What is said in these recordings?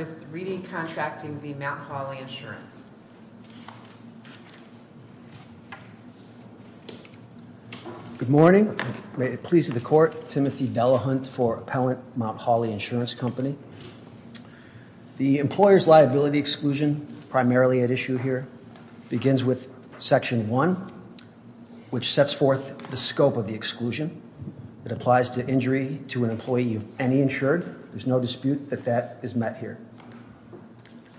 Good morning. May it please the court, Timothy Delahunt for Appellant, Mt. Hawley Insurance Company. The employer's liability exclusion, primarily at issue here, begins with Section 1, which sets forth the scope of the exclusion. It applies to injury to an employee of any insured. There's no dispute that that is met here.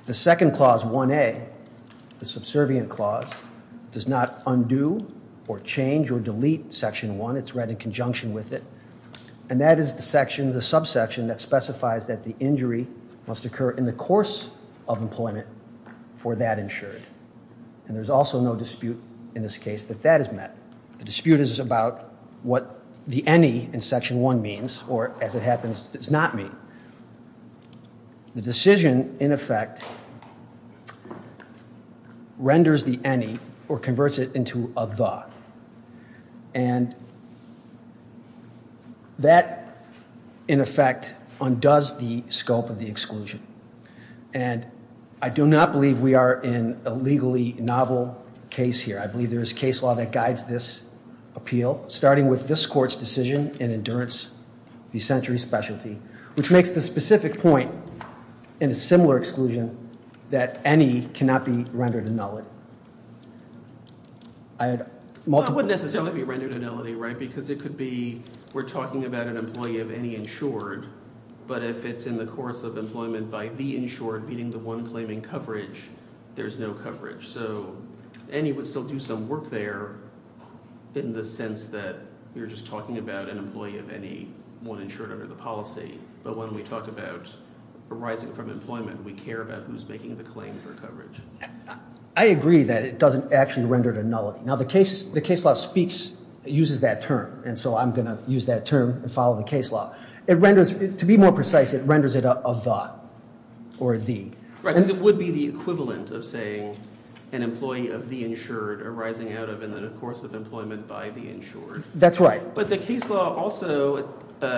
The second clause, 1A, the subservient clause, does not undo or change or delete Section 1. It's read in conjunction with it. And that is the section, the subsection, that specifies that the injury must occur in the course of employment for that insured. And there's also no dispute in this case that that is met. The dispute is about what the any in Section 1 means or, as it happens, does not mean. The decision, in effect, renders the any or converts it into a the. And that, in effect, undoes the scope of the exclusion. And I do not believe we are in a legally novel case here. I believe there is case law that guides this appeal, starting with this court's decision in Endurance, the Century Specialty, which makes the specific point in a similar exclusion that any cannot be rendered annulled. It wouldn't necessarily be rendered annulled, right, because it could be we're talking about an employee of any insured, but if it's in the course of employment by the insured, meaning the one claiming coverage, there's no coverage. So any would still do some work there in the sense that you're just talking about an employee of any one insured under the policy. But when we talk about arising from employment, we care about who's making the claim for coverage. I agree that it doesn't actually render it annulled. Now, the case law speaks, uses that term, and so I'm going to use that term and follow the case law. It renders, to be more precise, it renders it a the or a the. Right, because it would be the equivalent of saying an employee of the insured arising out of in the course of employment by the insured. That's right. But the case law also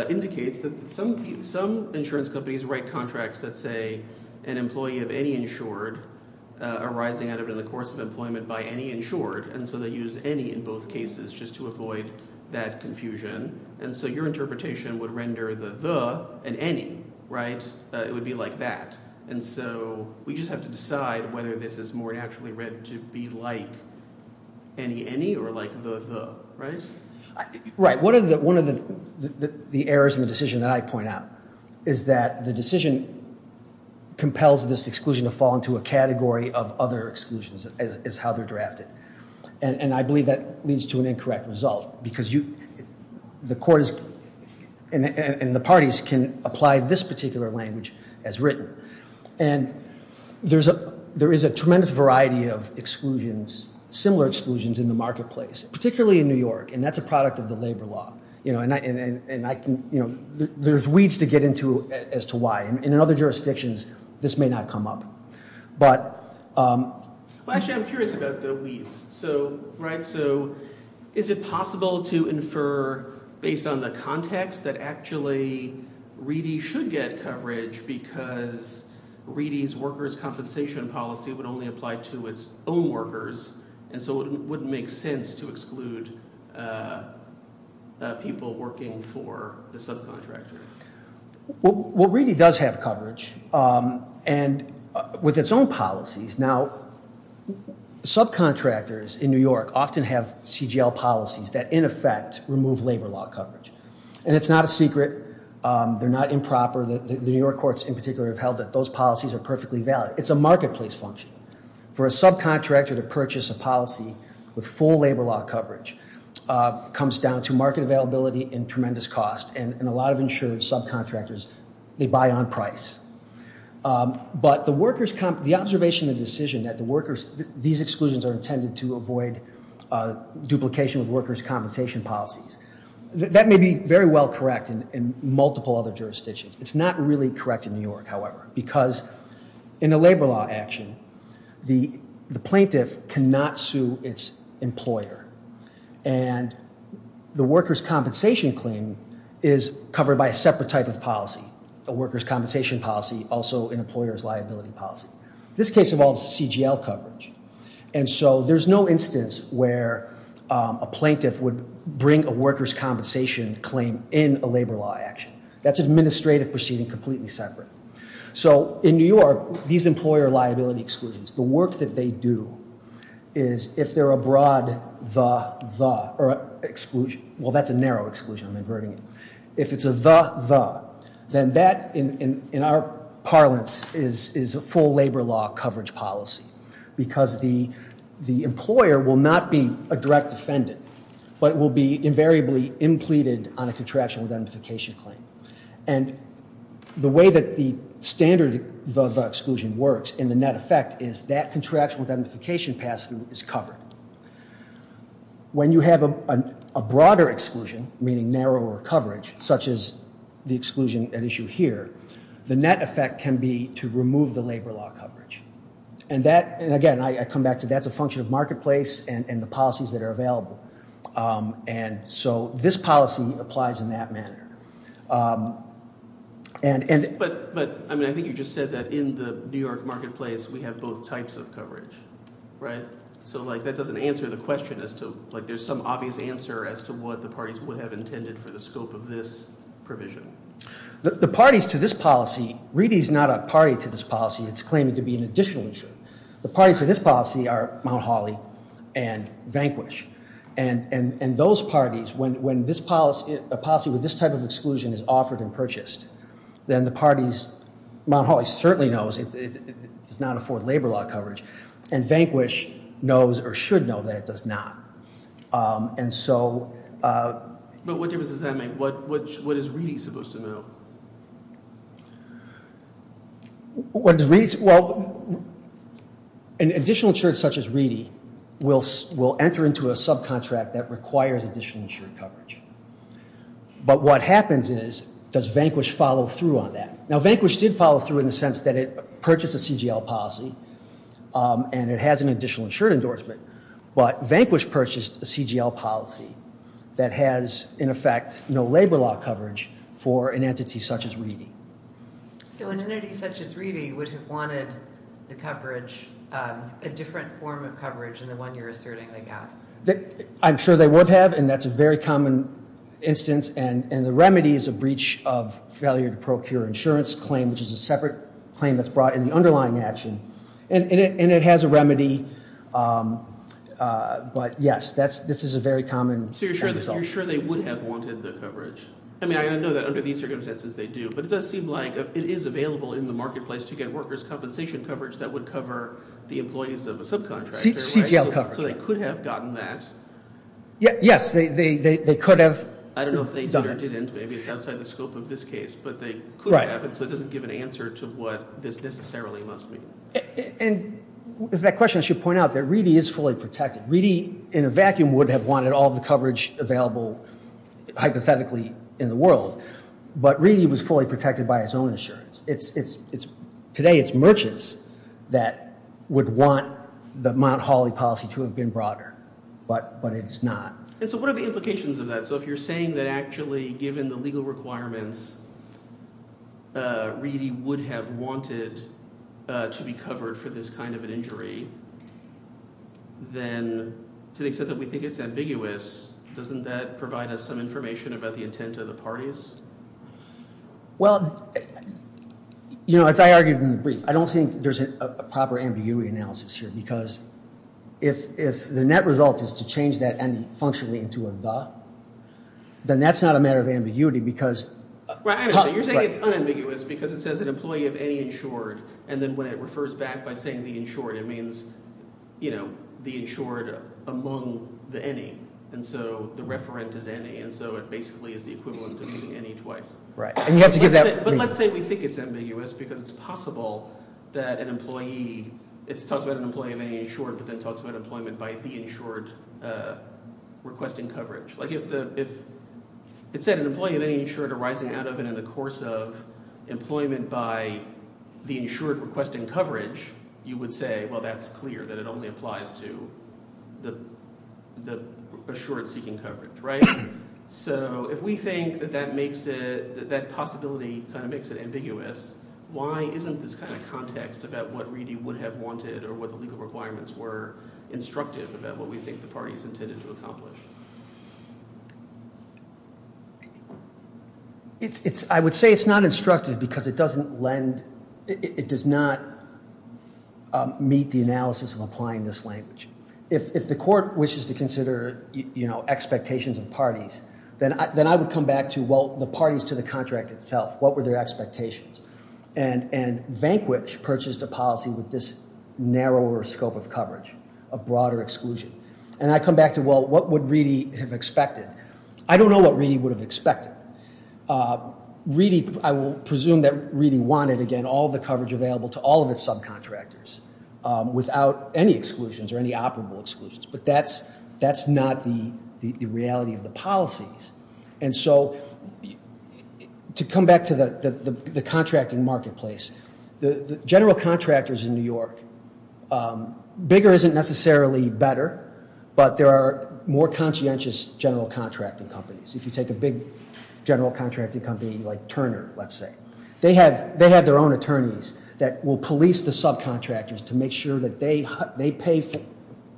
indicates that some insurance companies write contracts that say an employee of any insured arising out of in the course of employment by any insured, and so they use any in both cases just to avoid that confusion. And so your interpretation would render the the and any, right, it would be like that. And so we just have to decide whether this is more naturally read to be like any any or like the the, right? Right. One of the errors in the decision that I point out is that the decision compels this exclusion to fall into a category of other exclusions is how they're drafted. And I believe that leads to an incorrect result because you, the court is, and the parties can apply this particular language as written. And there's a there is a tremendous variety of exclusions, similar exclusions in the marketplace, particularly in New York, and that's a product of the labor law, you know, and I and I can, you know, there's weeds to get into as to why. And in other jurisdictions this may not come up. But, actually I'm curious about the weeds. So, right, so is it possible to infer based on the context that actually Reedy should get coverage because Reedy's workers' compensation policy would only apply to its own workers, and so it wouldn't make sense to exclude people working for the subcontractor? Well, Reedy does have coverage and with its own policies. Now subcontractors in New York often have CGL policies that, in effect, remove labor law coverage. And it's not a secret. They're not improper. The New York courts in particular have held that those policies are perfectly valid. It's a marketplace function. For a subcontractor to purchase a policy with full labor law coverage comes down to market availability and tremendous cost, and a lot of insured subcontractors, they buy on price. But the workers, the observation, the decision that the workers, these exclusions are intended to avoid duplication of workers' compensation policies, that may be very well correct in multiple other jurisdictions. It's not really correct in New York, and the workers' compensation claim is covered by a separate type of policy, a workers' compensation policy, also an employer's liability policy. This case involves CGL coverage, and so there's no instance where a plaintiff would bring a workers' compensation claim in a labor law action. That's administrative proceeding completely separate. So in New York, these employer liability exclusions, the work that they do is if they're a broad the, the, or exclusion, well that's a narrow exclusion, I'm inverting it. If it's a the, the, then that in our parlance is a full labor law coverage policy, because the employer will not be a direct defendant, but it will be invariably impleted on a contraction identification claim. And the way that the standard the, the exclusion works in the net effect is that contraction identification passing is covered. When you have a, a broader exclusion, meaning narrower coverage, such as the exclusion at issue here, the net effect can be to remove the labor law coverage. And that, and again, I come back to that's a function of marketplace and, and the policies that are available. And so this policy applies in that manner. And, and, but, but I mean, I think you just said that in the New York marketplace, we have both types of coverage, right? So like that doesn't answer the question as to, like there's some obvious answer as to what the parties would have intended for the scope of this provision. The parties to this policy, really is not a party to this policy. It's claiming to be an additional issue. The parties to this policy are Mount Holly and Vanquish. And, and, and those parties, when, when this policy, a policy with this type of exclusion is offered and purchased, then the parties, Mount Holly certainly knows it does not afford labor law coverage and Vanquish knows or should know that it does not. And so. But what difference does that make? What, what, what is Reedy supposed to know? What does Reedy, well, an additional insurance such as Reedy will, will enter into a subcontract that requires additional insurance coverage. But what happens is, does Vanquish follow through on that? Now Vanquish did follow through in the sense that it purchased a CGL policy and it has an additional insurance endorsement, but Vanquish purchased a CGL policy that has in effect, no labor law coverage for an entity such as Reedy. So an entity such as Reedy would have wanted the coverage, a different form of coverage than the one you're asserting they have. I'm sure they would have, and that's a very common instance. And, and the remedy is a breach of failure to procure insurance claim, which is a separate claim that's brought in the underlying action. And it, and it has a remedy. But yes, that's, this is a very common. So you're sure that you're sure they would have wanted the coverage? I mean, I know that under these circumstances they do, but it does seem like it is available in the marketplace to get workers compensation coverage that would cover the employees of a subcontractor. CGL coverage. So they could have gotten that. Yes, they could have. I don't know if they did or didn't. Maybe it's outside the scope of this case, but they could have. So it doesn't give an answer to what this necessarily must be. And if that question, I should point out that Reedy is fully protected. Reedy in a vacuum would have wanted all the coverage available, hypothetically in the world, but Reedy was fully protected by his own insurance. It's, it's, it's today, it's merchants that would want the Mount Holly policy to have been broader, but, but it's not. And so what are the implications of that? So if you're saying that actually given the legal requirements, Reedy would have wanted to be covered for this kind of an injury, then to the extent that we think it's ambiguous, doesn't that provide us some information about the intent of the parties? Well, you know, as I argued in the brief, I don't think there's a proper ambiguity analysis here, because if, if the net result is to change that any functionally into a the, then that's not a matter of ambiguity because. Right, so you're saying it's unambiguous because it says an employee of any insured. And then when it refers back by saying the insured, it means, you know, the insured among the any. And so the referent is any, and so it basically is the equivalent of using any twice. Right. And you have to give that. But let's say we think it's ambiguous because it's possible that an employee, it talks about an employee of any insured, but then talks about employment by the insured requesting coverage. Like if the, if it said an employee of any insured arising out of and in the course of employment by the insured requesting coverage, you would say, well, that's clear that it only applies to the, the assured seeking coverage. Right. So if we think that that makes it, that possibility kind of makes it ambiguous, why isn't this kind of context about what Reedy would have wanted or what the legal requirements were instructive about what we think the parties intended to accomplish? It's, it's, I would say it's not instructive because it doesn't lend, it does not meet the analysis of applying this language. If, if the court wishes to consider, you know, expectations of parties, then I, then I would come back to, well, the parties to the contract itself, what were their expectations? And, and Vanquish purchased a policy with this narrower scope of a broader exclusion. And I come back to, well, what would Reedy have expected? I don't know what Reedy would have expected. Reedy, I will presume that Reedy wanted, again, all the coverage available to all of its subcontractors without any exclusions or any operable exclusions, but that's, that's not the, the reality of the policies. And so to come back to the, the, the contracting marketplace, the general contractors in New York, bigger isn't necessarily better, but there are more conscientious general contracting companies. If you take a big general contracting company like Turner, let's say, they have, they have their own attorneys that will police the subcontractors to make sure that they, they pay for,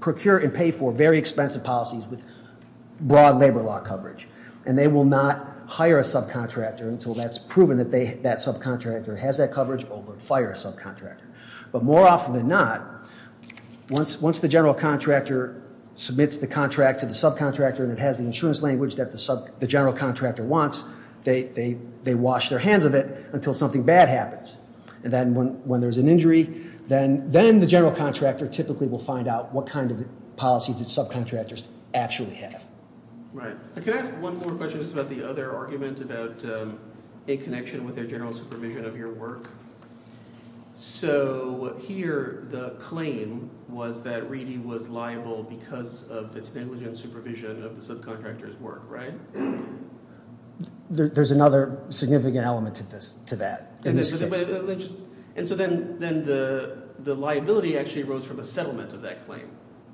procure and pay for very expensive policies with broad labor law coverage. And they will not hire a subcontractor until that's proven that they, that subcontractor has that coverage or will fire a subcontractor. But more often than not, once, once the general contractor submits the contract to the subcontractor and it has the insurance language that the sub, the general contractor wants, they, they, they wash their hands of it until something bad happens. And then when, when there's an injury, then, then the general contractor typically will find out what kind of policies that subcontractors actually have. Right. I can ask one more question just about the other argument about a connection with their general supervision of your work. So here, the claim was that Reedy was liable because of its negligent supervision of the subcontractor's work, right? There's another significant element to this, to that. And so then, then the, the liability actually arose from a settlement of that claim,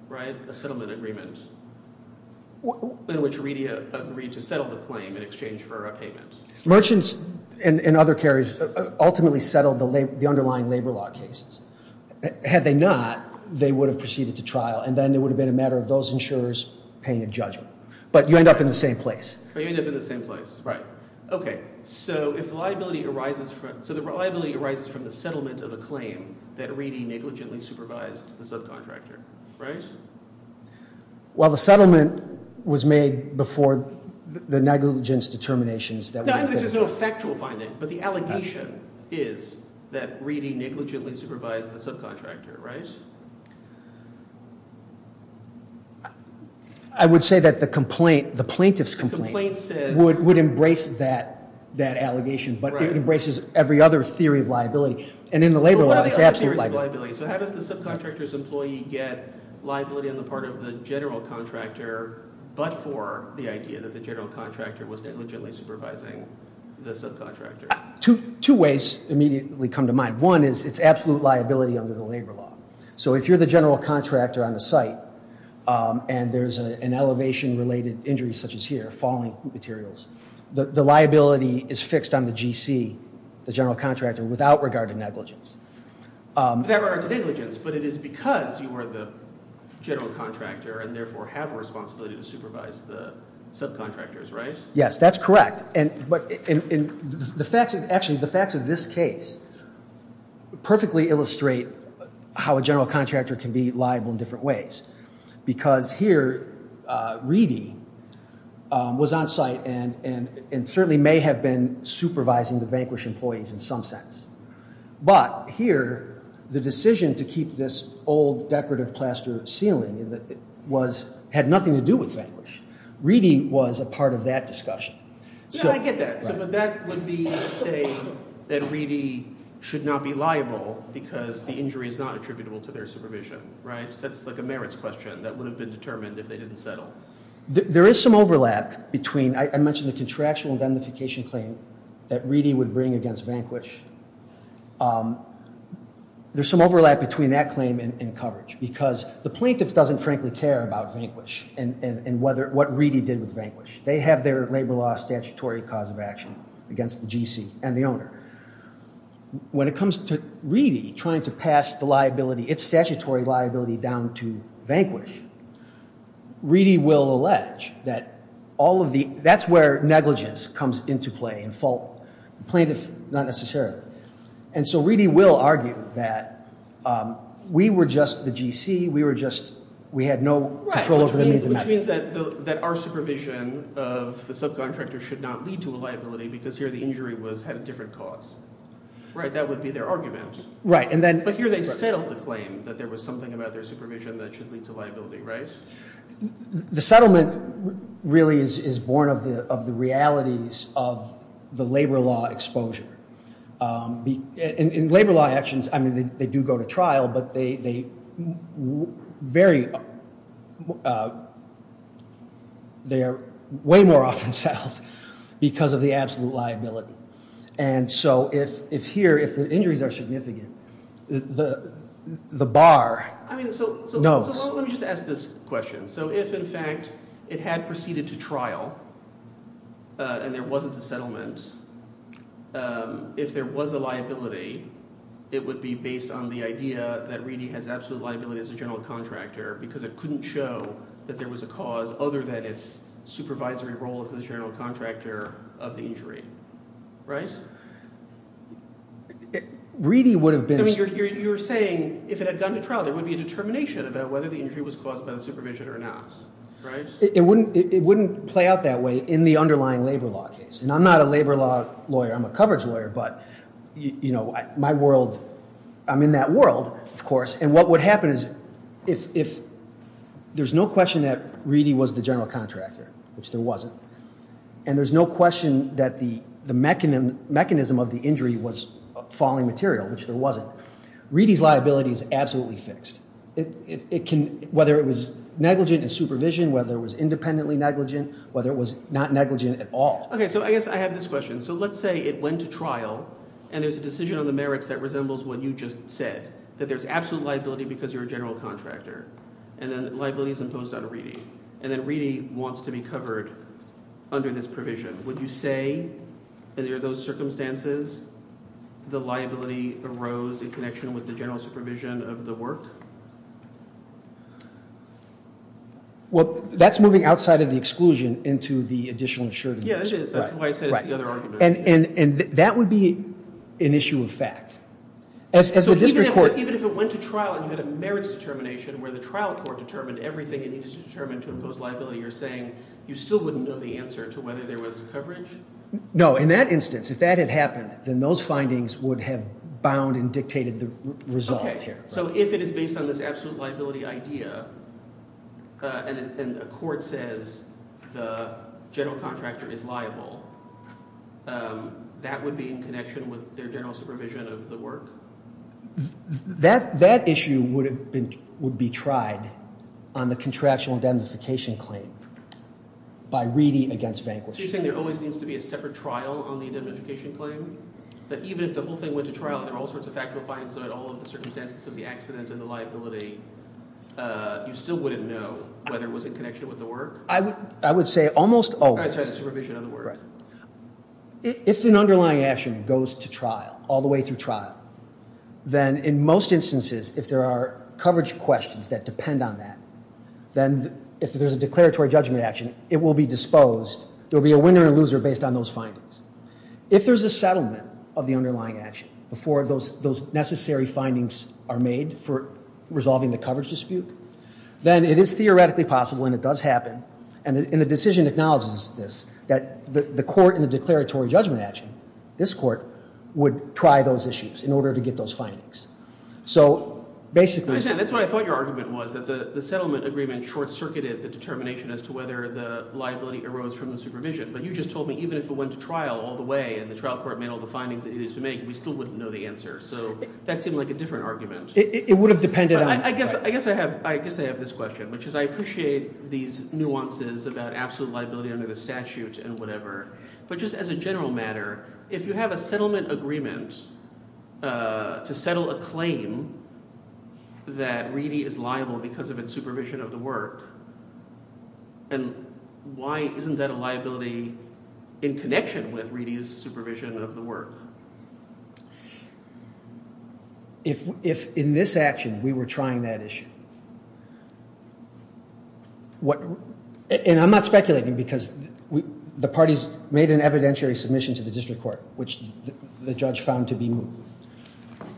right? A settlement agreement in which Reedy agreed to settle the claim in exchange for a payment. Merchants and other carriers ultimately settled the underlying labor law cases. Had they not, they would have proceeded to trial and then it would have been a matter of those insurers paying a judgment. But you end up in the same place. You end up in the same place. Right. Okay. So if liability arises from, so the liability arises from the settlement of a claim that Reedy negligently supervised the subcontractor, right? Well, the settlement was made before the negligence determinations that- No, this is no factual finding, but the allegation is that Reedy negligently supervised the subcontractor, right? I would say that the complaint, the plaintiff's complaint- The complaint says- Would, would embrace that, that allegation, but it embraces every other theory of liability. And in the labor law, it's absolute liability. So how does the subcontractor's employee get liability on the part of the general contractor, but for the idea that the general contractor was negligently supervising the subcontractor? Two, two ways immediately come to mind. One is it's absolute liability under the labor law. So if you're the general contractor on the site and there's an elevation related injury such as here, falling materials, the liability is fixed on the GC, the general contractor, without regard to negligence. Without regard to negligence, but it is because you are the general contractor and therefore have a responsibility to supervise the subcontractors, right? Yes, that's correct. And, but the facts of, actually the facts of this case perfectly illustrate how a general contractor can be liable in different ways. Because here, Reedy was on site and certainly may have been supervising the Vanquish employees in some sense. But here, the decision to keep this old decorative plaster ceiling had nothing to do with Vanquish. Reedy was a part of that discussion. Yeah, I get that. But that would be to say that Reedy should not be liable because the injury is not attributable to their supervision, right? That's like a merits question that would have been determined if they didn't settle. There is some overlap between, I mentioned the contractual indemnification claim, that Reedy would bring against Vanquish. There's some overlap between that claim and coverage. Because the plaintiff doesn't frankly care about Vanquish and whether, what Reedy did with Vanquish. They have their labor law statutory cause of action against the GC and the owner. When it comes to Reedy trying to pass the liability, its statutory liability down to Vanquish, Reedy will allege that all of the, that's where negligence comes into play and fault. The plaintiff, not necessarily. And so Reedy will argue that we were just the GC, we were just, we had no control over the means and measures. Right, which means that our supervision of the subcontractor should not lead to a liability because here the injury had a different cause. Right, that would be their argument. Right, and then. But here they settled the claim that there was something about their supervision that should lead to liability, right? The settlement really is born of the realities of the labor law exposure. In labor law actions, I mean, they do go to trial, but they vary. They are way more often settled because of the absolute liability. And so if here, if the injuries are significant, the bar. I mean, so let me just ask this question. So if in fact it had proceeded to trial and there wasn't a settlement, if there was a liability, it would be based on the idea that Reedy has absolute liability as a general contractor because it couldn't show that there was a cause other than its supervisory role as the general contractor of the injury, right? Reedy would have been. I mean, you're saying if it had gone to trial, there would be a determination about whether the injury was caused by the supervision or not, right? It wouldn't play out that way in the underlying labor law case. And I'm not a labor law lawyer. I'm a coverage lawyer. But, you know, my world, I'm in that world, of course. And what would happen is if there's no question that Reedy was the general contractor, which there wasn't. And there's no question that the mechanism of the injury was falling material, which there wasn't. Reedy's liability is absolutely fixed. Whether it was negligent in supervision, whether it was independently negligent, whether it was not negligent at all. Okay. So I guess I have this question. So let's say it went to trial and there's a decision on the merits that resembles what you just said, that there's absolute liability because you're a general contractor. And then liability is imposed on Reedy. And then Reedy wants to be covered under this provision. Would you say under those circumstances, the liability arose in connection with the general supervision of the work? Well, that's moving outside of the exclusion into the additional insurance. Yeah, it is. That's why I said it's the other argument. And that would be an issue of fact. So even if it went to trial and you had a merits determination where the trial court determined everything it needed to determine to impose liability, you're saying you still wouldn't know the answer to whether there was coverage? No. In that instance, if that had happened, then those findings would have bound and dictated the results here. Okay. So if it is based on this absolute liability idea and a court says the general contractor is liable, that would be in connection with their general supervision of the work? That issue would be tried on the contractual indemnification claim by Reedy against Vanquish. So you're saying there always needs to be a separate trial on the indemnification claim? But even if the whole thing went to trial and there are all sorts of factual findings about all of the circumstances of the accident and the liability, you still wouldn't know whether it was in connection with the work? I would say almost always. Sorry, the supervision of the work. Right. If an underlying action goes to trial, all the way through trial, then in most instances, if there are coverage questions that depend on that, then if there's a declaratory judgment action, it will be disposed. There'll be a winner and loser based on those findings. If there's a settlement of the underlying action before those necessary findings are made for resolving the coverage dispute, then it is theoretically possible, and it does happen, and the decision acknowledges this, that the court in the declaratory judgment action, this court, would try those issues in order to get those findings. So basically... I understand. That's why I thought your argument was that the settlement agreement short-circuited the determination as to whether the liability arose from the supervision. But you just told me, even if it went to trial all the way, and the trial court made all the findings it needed to make, we still wouldn't know the answer. So that seemed like a different argument. It would have depended on... I guess I have this question, which is I appreciate these nuances about absolute liability under the statute and whatever, but just as a general matter, if you have a settlement agreement to settle a claim that Reedy is liable because of its supervision of the work, and why isn't that a liability in connection with Reedy's supervision of the work? If in this action, we were trying that issue... And I'm not speculating because the parties made an evidentiary submission to the district court, which the judge found to be moot.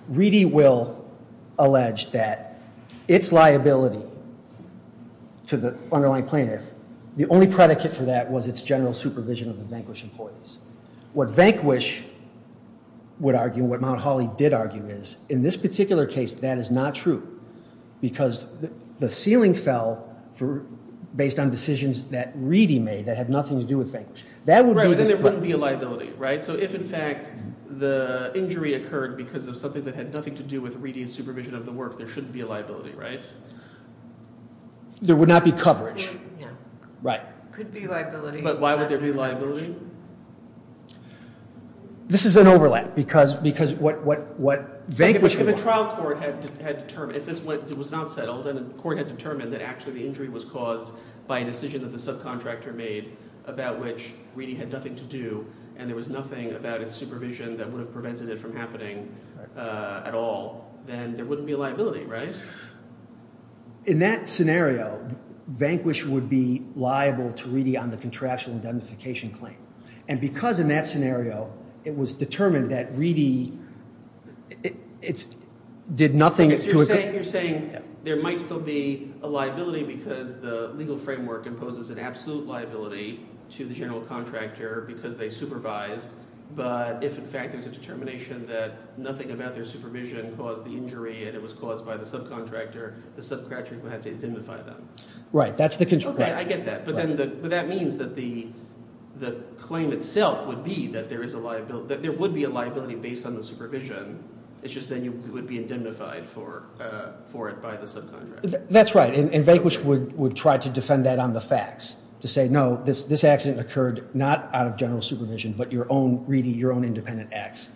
Reedy will allege that its liability to the underlying plaintiff, the only predicate for that was its general supervision of the Vanquish employees. What Vanquish would argue, what Mount Holly did argue is, in this particular case, that is not true because the ceiling fell based on decisions that Reedy made that had nothing to do with Vanquish. That would be... Right, but then there wouldn't be a liability, right? So if in fact the injury occurred because of something that had nothing to do with Reedy's supervision of the work, there shouldn't be a liability, right? There would not be coverage. Yeah. Right. Could be a liability. But why would there be a liability? This is an overlap because what Vanquish... If a trial court had determined, if this was not settled and the court had determined that actually the injury was caused by a decision that the subcontractor made about which Reedy had nothing to do and there was nothing about its supervision that would have prevented it from happening at all, then there wouldn't be a liability, right? In that scenario, Vanquish would be liable to Reedy on the contractual indemnification claim. And because in that scenario, it was determined that Reedy... Did nothing to... So you're saying there might still be a liability because the legal framework imposes an absolute liability to the general contractor because they supervise, but if in fact there's a determination that nothing about their supervision caused the injury and it was caused by the subcontractor, the subcontractor would have to indemnify them? Right, that's the... Okay, I get that. But that means that the claim itself would be that there is a liability... That there would be a liability based on the supervision. It's just that you would be indemnified for it by the subcontractor. That's right. And Vanquish would try to defend that on the facts to say, no, this accident occurred not out of general supervision, but your own, Reedy, your own independent acts.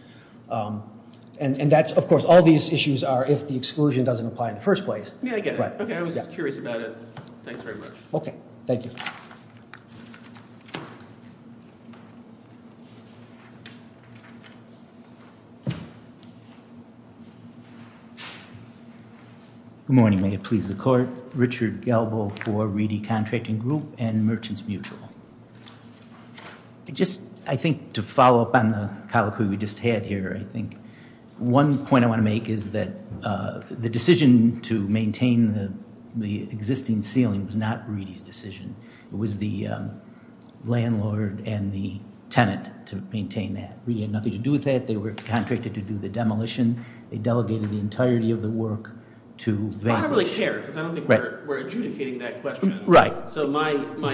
And that's, of course, all these issues are if the exclusion doesn't apply in the first place. Yeah, I get it. Okay, I was curious about it. Thanks very much. Okay, thank you. Good morning, may it please the court. Richard Galbo for Reedy Contracting Group and Merchants Mutual. I just, I think to follow up on the colloquy we just had here, I think one point I want to make is that the decision to maintain the existing ceiling was not Reedy's decision. It was the landlord and the tenant to maintain that. Reedy had nothing to do with that. They were contracted to do the demolition. They delegated the entirety of the work to Vanquish. I don't really care because I don't think we're adjudicating that question. Right. So my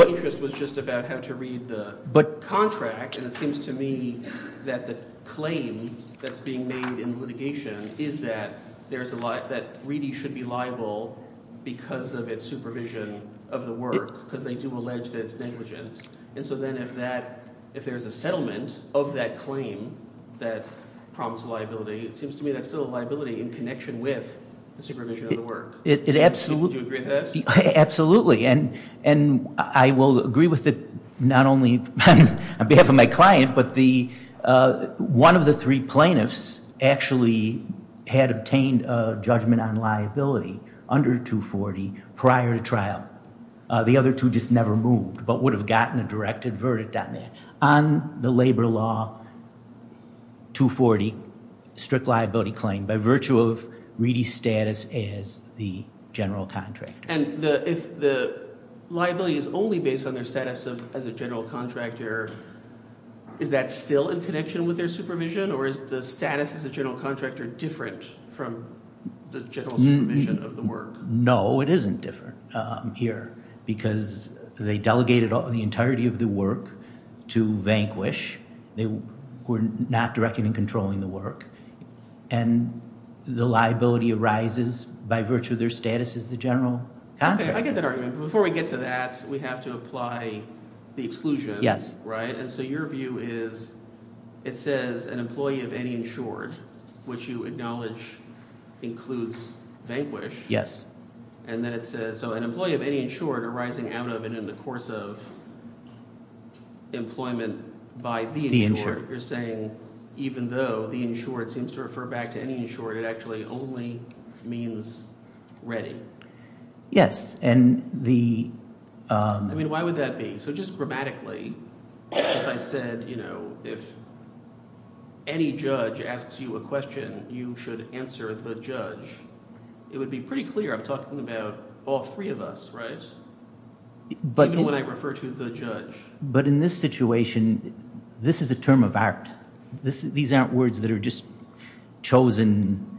interest was just about how to read the contract. And it seems to me that the claim that's being made in litigation is that Reedy should be liable because of its supervision of the work because they do allege that it's negligent. And so then if there's a settlement of that claim that prompts liability, it seems to me that's still a liability in connection with the supervision of the work. Do you agree with that? Absolutely. And I will agree with it not only on behalf of my client, but one of the three plaintiffs actually had obtained a judgment on liability under 240 prior to trial. The other two just never moved but would have gotten a directed verdict on that. On the labor law, 240, strict liability claim by virtue of Reedy's status as the general contractor. And if the liability is only based on their status as a general contractor, is that still in connection with their supervision? Or is the status as a general contractor different from the general supervision of the work? No, it isn't different here because they delegated the entirety of the work to vanquish. They were not directing and controlling the work. And the liability arises by virtue of their status as the general contractor. Okay, I get that argument. But before we get to that, we have to apply the exclusion. And so your view is, it says an employee of any insured, which you acknowledge includes vanquish. And then it says, so an employee of any insured arising out of and in the course of employment by the insured, you're saying even though the insured seems to refer back to any insured, it actually only means ready. Yes, and the... I mean, why would that be? So just grammatically, if I said, if any judge asks you a question, you should answer the judge. It would be pretty clear. I'm talking about all three of us, right? Even when I refer to the judge. But in this situation, this is a term of art. These aren't words that are just chosen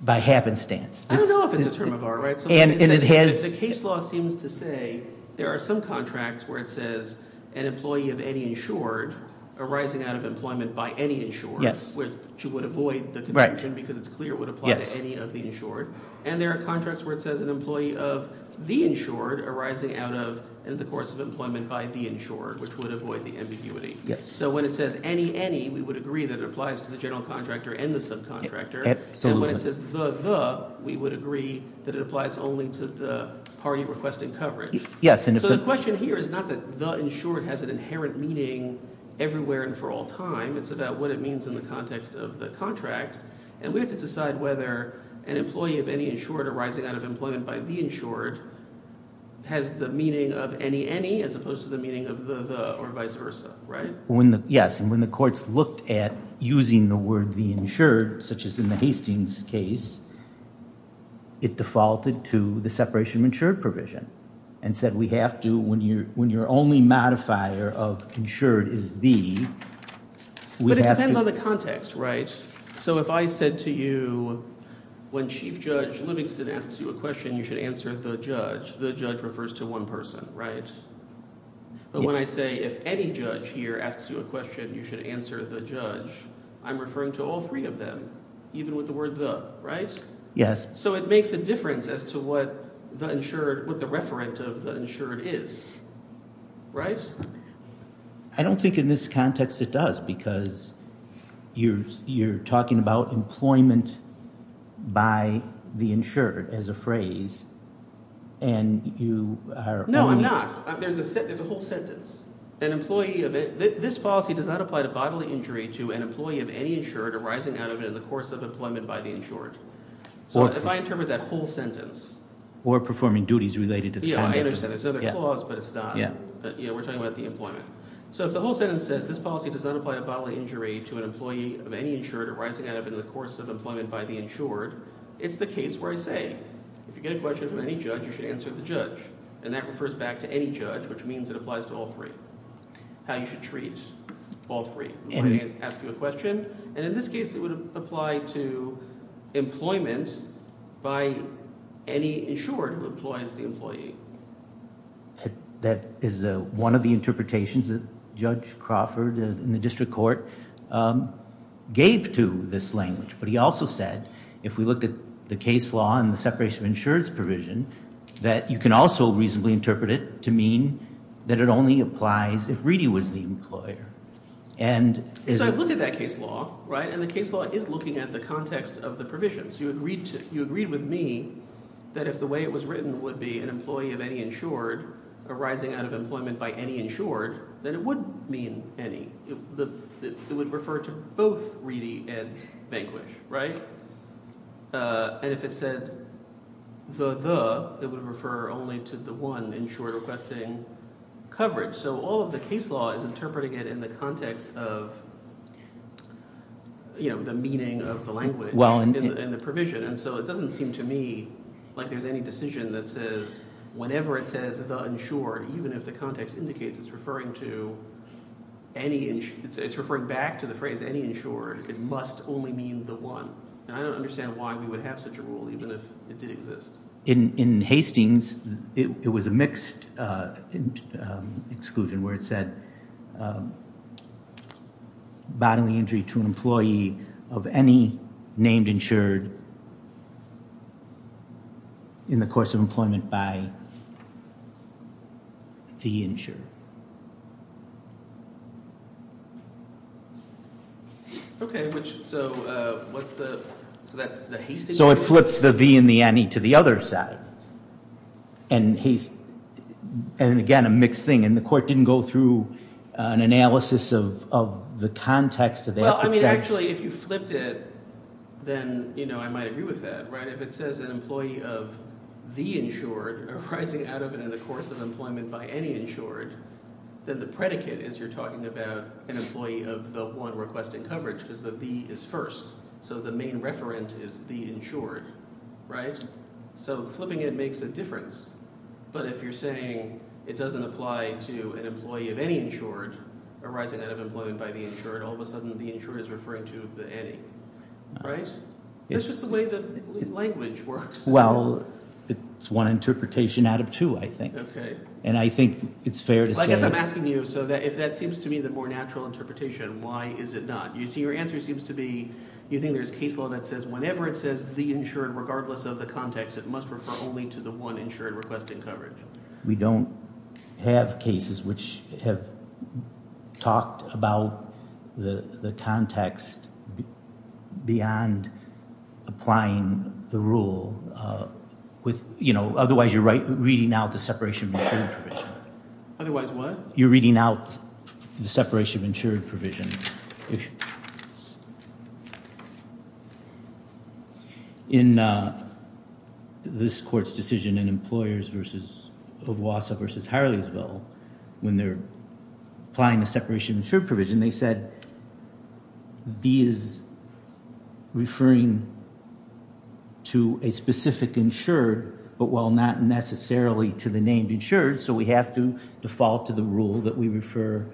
by happenstance. I don't know if it's a term of art, right? And it has... The case law seems to say there are some contracts where it says an employee of any insured arising out of employment by any insured, which would avoid the conviction because it's clear it would apply to any of the insured. And there are contracts where it says an employee of the insured arising out of and in the course of employment by the insured, which would avoid the ambiguity. So when it says any, any, we would agree that it applies to the general contractor and the subcontractor. And when it says the, the, we would agree that it applies only to the party requesting coverage. So the question here is not that the insured has an inherent meaning everywhere and for all time. It's about what it means in the context of the contract. And we have to decide whether an employee of any insured arising out of employment by the insured has the meaning of any, any, as opposed to the meaning of the, the, or vice versa, right? Yes. And when the courts looked at using the word the insured, such as in the Hastings case, it defaulted to the separation of insured provision and said, we have to, when you're, when you're only modifier of insured is the, we have to. But it depends on the context, right? So if I said to you, when chief judge Livingston asks you a question, you should answer the judge. The judge refers to one person, right? But when I say if any judge here asks you a question, you should answer the judge. I'm referring to all three of them, even with the word the, right? Yes. So it makes a difference as to what the insured, what the referent of the insured is, right? I don't think in this context, it does because you're, you're talking about employment by the insured as a phrase. And you are. No, I'm not. There's a, there's a whole sentence, an employee of it. This policy does not apply to bodily injury to an employee of any insured arising out of it in the course of employment by the insured. So if I interpret that whole sentence. Or performing duties related to the conduct. Yeah, I understand. There's another clause, but it's not. Yeah, we're talking about the employment. So if the whole sentence says, this policy does not apply to bodily injury to an employee of any insured arising out of it in the course of employment by the insured, it's the case where I say, if you get a question from any judge, you should answer the judge. And that refers back to any judge, which means it applies to all three. How you should treat all three. Ask you a question. And in this case, it would apply to employment by any insured who employs the employee. That is one of the interpretations that Judge Crawford in the district court gave to this language. But he also said, if we looked at the case law and the separation of insurance provision, that you can also reasonably interpret it to mean that it only applies if Reedy was the employer. And so I've looked at that case law, right? And the case law is looking at the context of the provisions. You agreed with me that if the way it was written would be an employee of any insured arising out of employment by any insured, then it would mean any. It would refer to both Reedy and Vanquish, right? And if it said the, the, it would refer only to the one insured requesting coverage. So all of the case law is interpreting it in the context of the meaning of the language in the provision. And so it doesn't seem to me like there's any decision that says whenever it says the insured, even if the context indicates it's referring to any, it's referring back to the phrase any insured, it must only mean the one. And I don't understand why we would have such a rule, even if it did exist. In Hastings, it was a mixed exclusion where it said bodily injury to an employee of any named insured in the course of employment by the insured. Okay, which, so what's the, so that's the Hastings? So it flips the the and the any to the other side. And he's, and again, a mixed thing. And the court didn't go through an analysis of the context of that. I mean, actually, if you flipped it, then I might agree with that, right? If it says an employee of the insured arising out of and in the course of employment by any insured, then the predicate is you're talking about an employee of the one requesting coverage because the the is first. So the main referent is the insured, right? So flipping it makes a difference. But if you're saying it doesn't apply to an employee of any insured arising out of employment by the insured, all of a sudden the insured is referring to the any, right? It's just the way the language works. Well, it's one interpretation out of two, I think. And I think it's fair to say. I guess I'm asking you, so that if that seems to me the more natural interpretation, why is it not? You see, your answer seems to be, you think there's case law that says whenever it says the insured, regardless of the context, it must refer only to the one insured requesting coverage. We don't have cases which have talked about the context beyond applying the rule with, you know, otherwise you're right reading out the separation of insured provision. Otherwise what? You're reading out the separation of insured provision. In this court's decision in employers versus of Wassa versus Harleysville, when they're applying the separation of insured provision, they said these referring to a specific insured, but while not necessarily to the named insured. So we have to default to the rule that we refer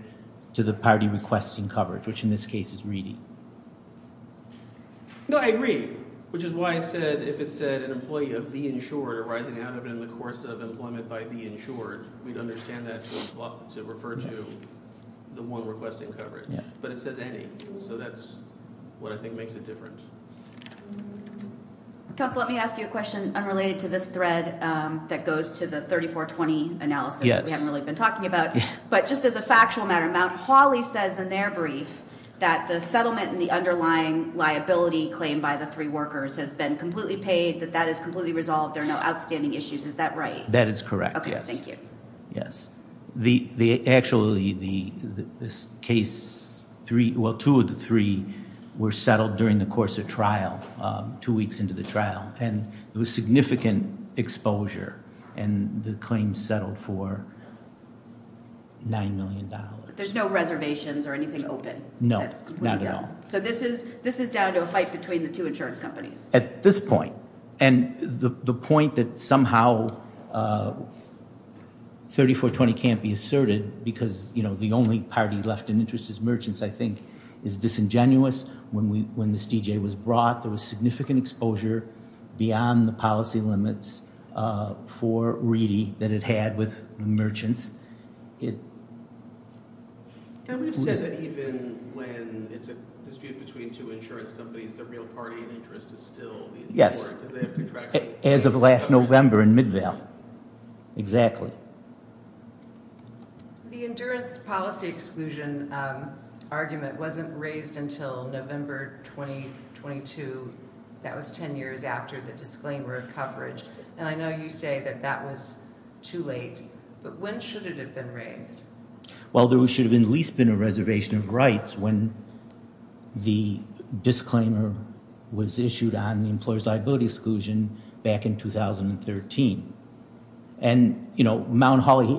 to the party requesting coverage, which in this case is reading. No, I agree, which is why I said, if it said an employee of the insured or rising out of it in the course of employment by the insured, we'd understand that to refer to the one requesting coverage, but it says any. So that's what I think makes it different. Counsel, let me ask you a question unrelated to this thread that goes to the 3420 analysis. We haven't really been talking about, but just as a factual matter, Mount Holly says in their brief that the settlement and the underlying liability claim by the three workers has been completely paid, that that is completely resolved. There are no outstanding issues. Is that right? That is correct. OK, thank you. Yes, the actually the this case three, well, two of the three were settled during the course of trial two weeks into the trial and it was significant exposure and the claim settled for. Nine million dollars, there's no reservations or anything open. No, not at all. So this is this is down to a fight between the two insurance companies at this point and the point that somehow 3420 can't be asserted because, you know, the only party left in interest is merchants, I think is disingenuous. When we when this DJ was brought, there was significant exposure beyond the policy limits for really that it had with merchants. It. And we've said that even when it's a dispute between two insurance companies, the real party interest is still. Yes, as of last November in Midvale. Exactly. The endurance policy exclusion argument wasn't raised until November 2022. That was 10 years after the disclaimer of coverage. And I know you say that that was too late, but when should it have been raised? Well, there should have been at least been a reservation of rights when the disclaimer was issued on the employer's liability exclusion back in 2013. And, you know, Mount Holly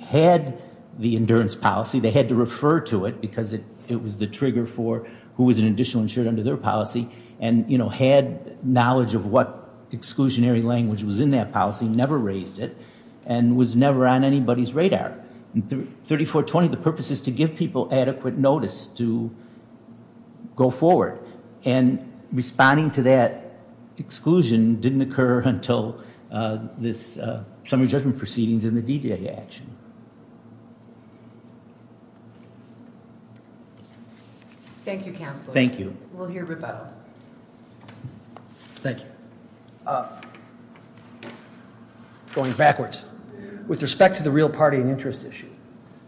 had the endurance policy. They had to refer to it because it was the trigger for who was an additional insured under their policy and had knowledge of what exclusionary language was in that policy, never raised it and was never on anybody's radar. And 3420, the purpose is to give people adequate notice to go forward and responding to that exclusion didn't occur until this summary judgment proceedings in the D-Day action. Thank you, Counselor. Thank you. We'll hear rebuttal. Thank you. Going backwards, with respect to the real party and interest issue,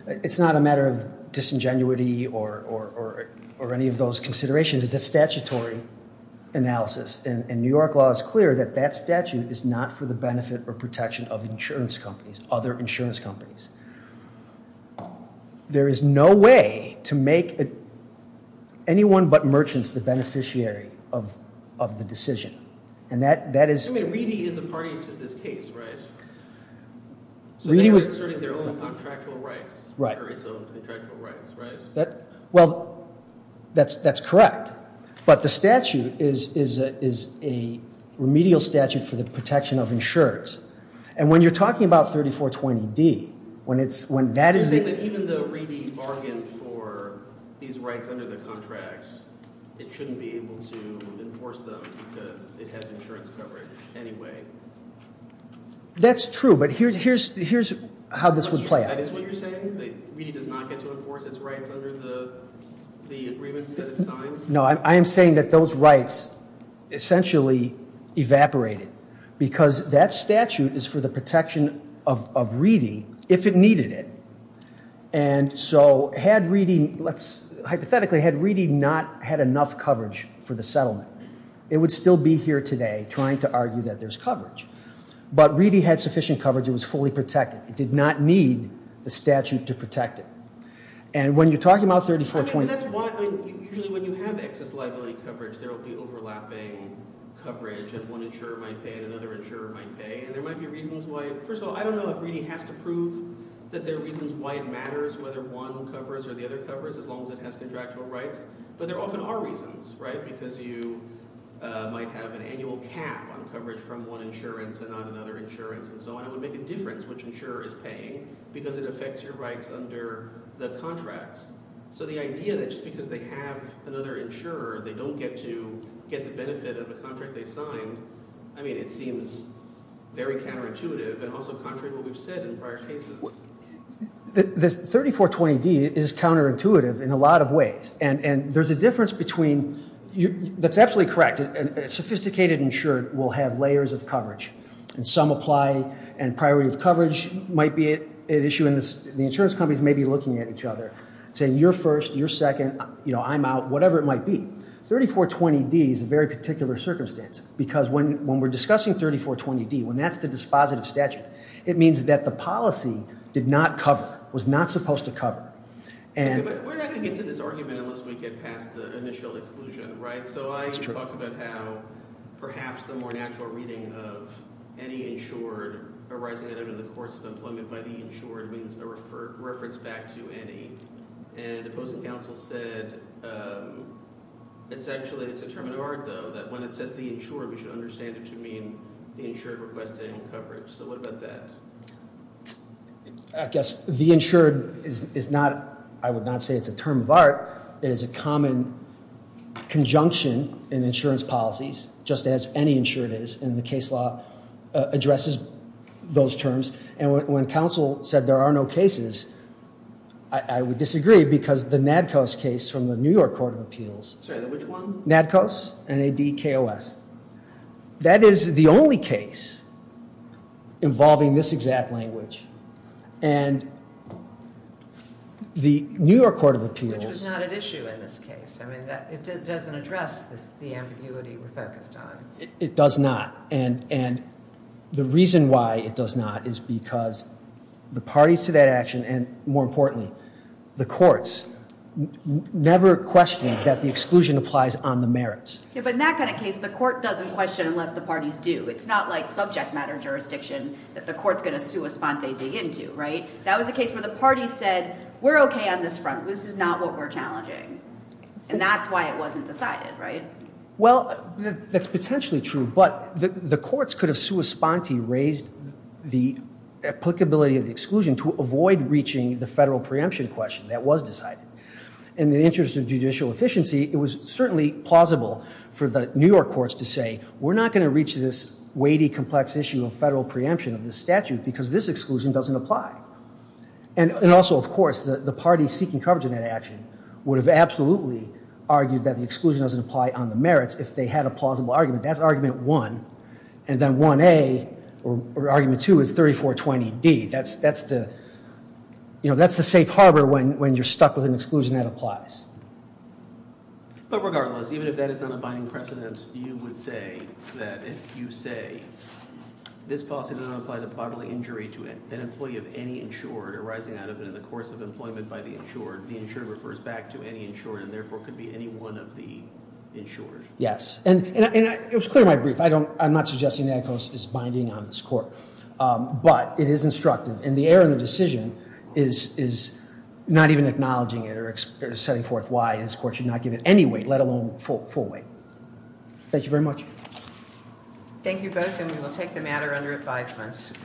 it's not a matter of disingenuity or any of those considerations. It's a statutory analysis and New York law is clear that that statute is not for the benefit or protection of insurance companies, other insurance companies. There is no way to make anyone but merchants the beneficiary of the decision. And that is... I mean, Reedy is a party to this case, right? So they are concerning their own contractual rights. Right. Or its own contractual rights, right? Well, that's correct. But the statute is a remedial statute for the protection of insurance. And when you're talking about 3420D, when that is... You're saying that even though Reedy bargained for these rights under the contract, it shouldn't be able to enforce them because it has insurance coverage anyway. That's true. But here's how this would play out. That is what you're saying? That Reedy does not get to enforce its rights under the agreements that it signed? No, I am saying that those rights essentially evaporated because that statute is for the protection of Reedy if it needed it. And so had Reedy... Let's hypothetically, had Reedy not had enough coverage for the settlement, it would still be here today trying to argue that there's coverage. But Reedy had sufficient coverage. It was fully protected. It did not need the statute to protect it. And when you're talking about 3420... Usually when you have excess liability coverage, there'll be overlapping coverage if one insurer might pay and another insurer might pay. And there might be reasons why... First of all, I don't know if Reedy has to prove that there are reasons why it matters whether one covers or the other covers as long as it has contractual rights. But there often are reasons, right? Because you might have an annual cap on coverage from one insurance and not another insurance and so on. It would make a difference which insurer is paying because it affects your rights under the contracts. So the idea that just because they have another insurer, they don't get to get the benefit of the contract they signed, I mean, it seems very counterintuitive and also contrary to what we've said in prior cases. This 3420D is counterintuitive in a lot of ways. And there's a difference between... That's absolutely correct. Sophisticated insured will have layers of coverage and some apply and priority of coverage might be an issue and the insurance companies may be looking at each other. Saying you're first, you're second, you know, I'm out, whatever it might be. 3420D is a very particular circumstance because when we're discussing 3420D, when that's the dispositive statute, it means that the policy did not cover, was not supposed to cover. And we're not going to get to this argument unless we get past the initial exclusion, right? So I talked about how perhaps the more natural reading of any insured arising out of the course of employment by the insured means no reference back to any. And opposing counsel said it's actually... It's a term of art though that when it says the insured, we should understand it to mean the insured requesting coverage. So what about that? I guess the insured is not... I would not say it's a term of art. It is a common conjunction in insurance policies, just as any insured is and the case law addresses those terms. And when counsel said there are no cases, I would disagree because the NADCOS case from the New York Court of Appeals... Sorry, which one? NADCOS, N-A-D-K-O-S. That is the only case involving this exact language. And the New York Court of Appeals... Which was not an issue in this case. I mean, it doesn't address the ambiguity we focused on. It does not. And the reason why it does not is because the parties to that action and more importantly, the courts never questioned that the exclusion applies on the merits. Yeah, but in that kind of case, the court doesn't question unless the parties do. It's not like subject matter jurisdiction that the court's gonna sua sponte dig into, right? That was a case where the party said, we're okay on this front. This is not what we're challenging. And that's why it wasn't decided, right? Well, that's potentially true. But the courts could have sua sponte raised the applicability of the exclusion to avoid reaching the federal preemption question that was decided. In the interest of judicial efficiency, it was certainly plausible for the New York courts to say, we're not gonna reach this weighty, complex issue of federal preemption of the statute because this exclusion doesn't apply. And also, of course, the parties seeking coverage in that action would have absolutely argued that the exclusion doesn't apply on the merits if they had a plausible argument. That's argument one. And then argument two is 3420D. That's the safe harbor when you're stuck with an exclusion that applies. But regardless, even if that is not a binding precedent, you would say that if you say, this policy does not apply to bodily injury to an employee of any insured arising out of it in the course of employment by the insured, the insured refers back to any insured and therefore could be any one of the insured. Yes. And it was clear in my brief, I'm not suggesting that NACOS is binding on this court, but it is instructive. And the error in the decision is not even acknowledging it or setting forth why this court should not give it any weight, let alone full weight. Thank you very much. Thank you both. And we will take the matter under advisement.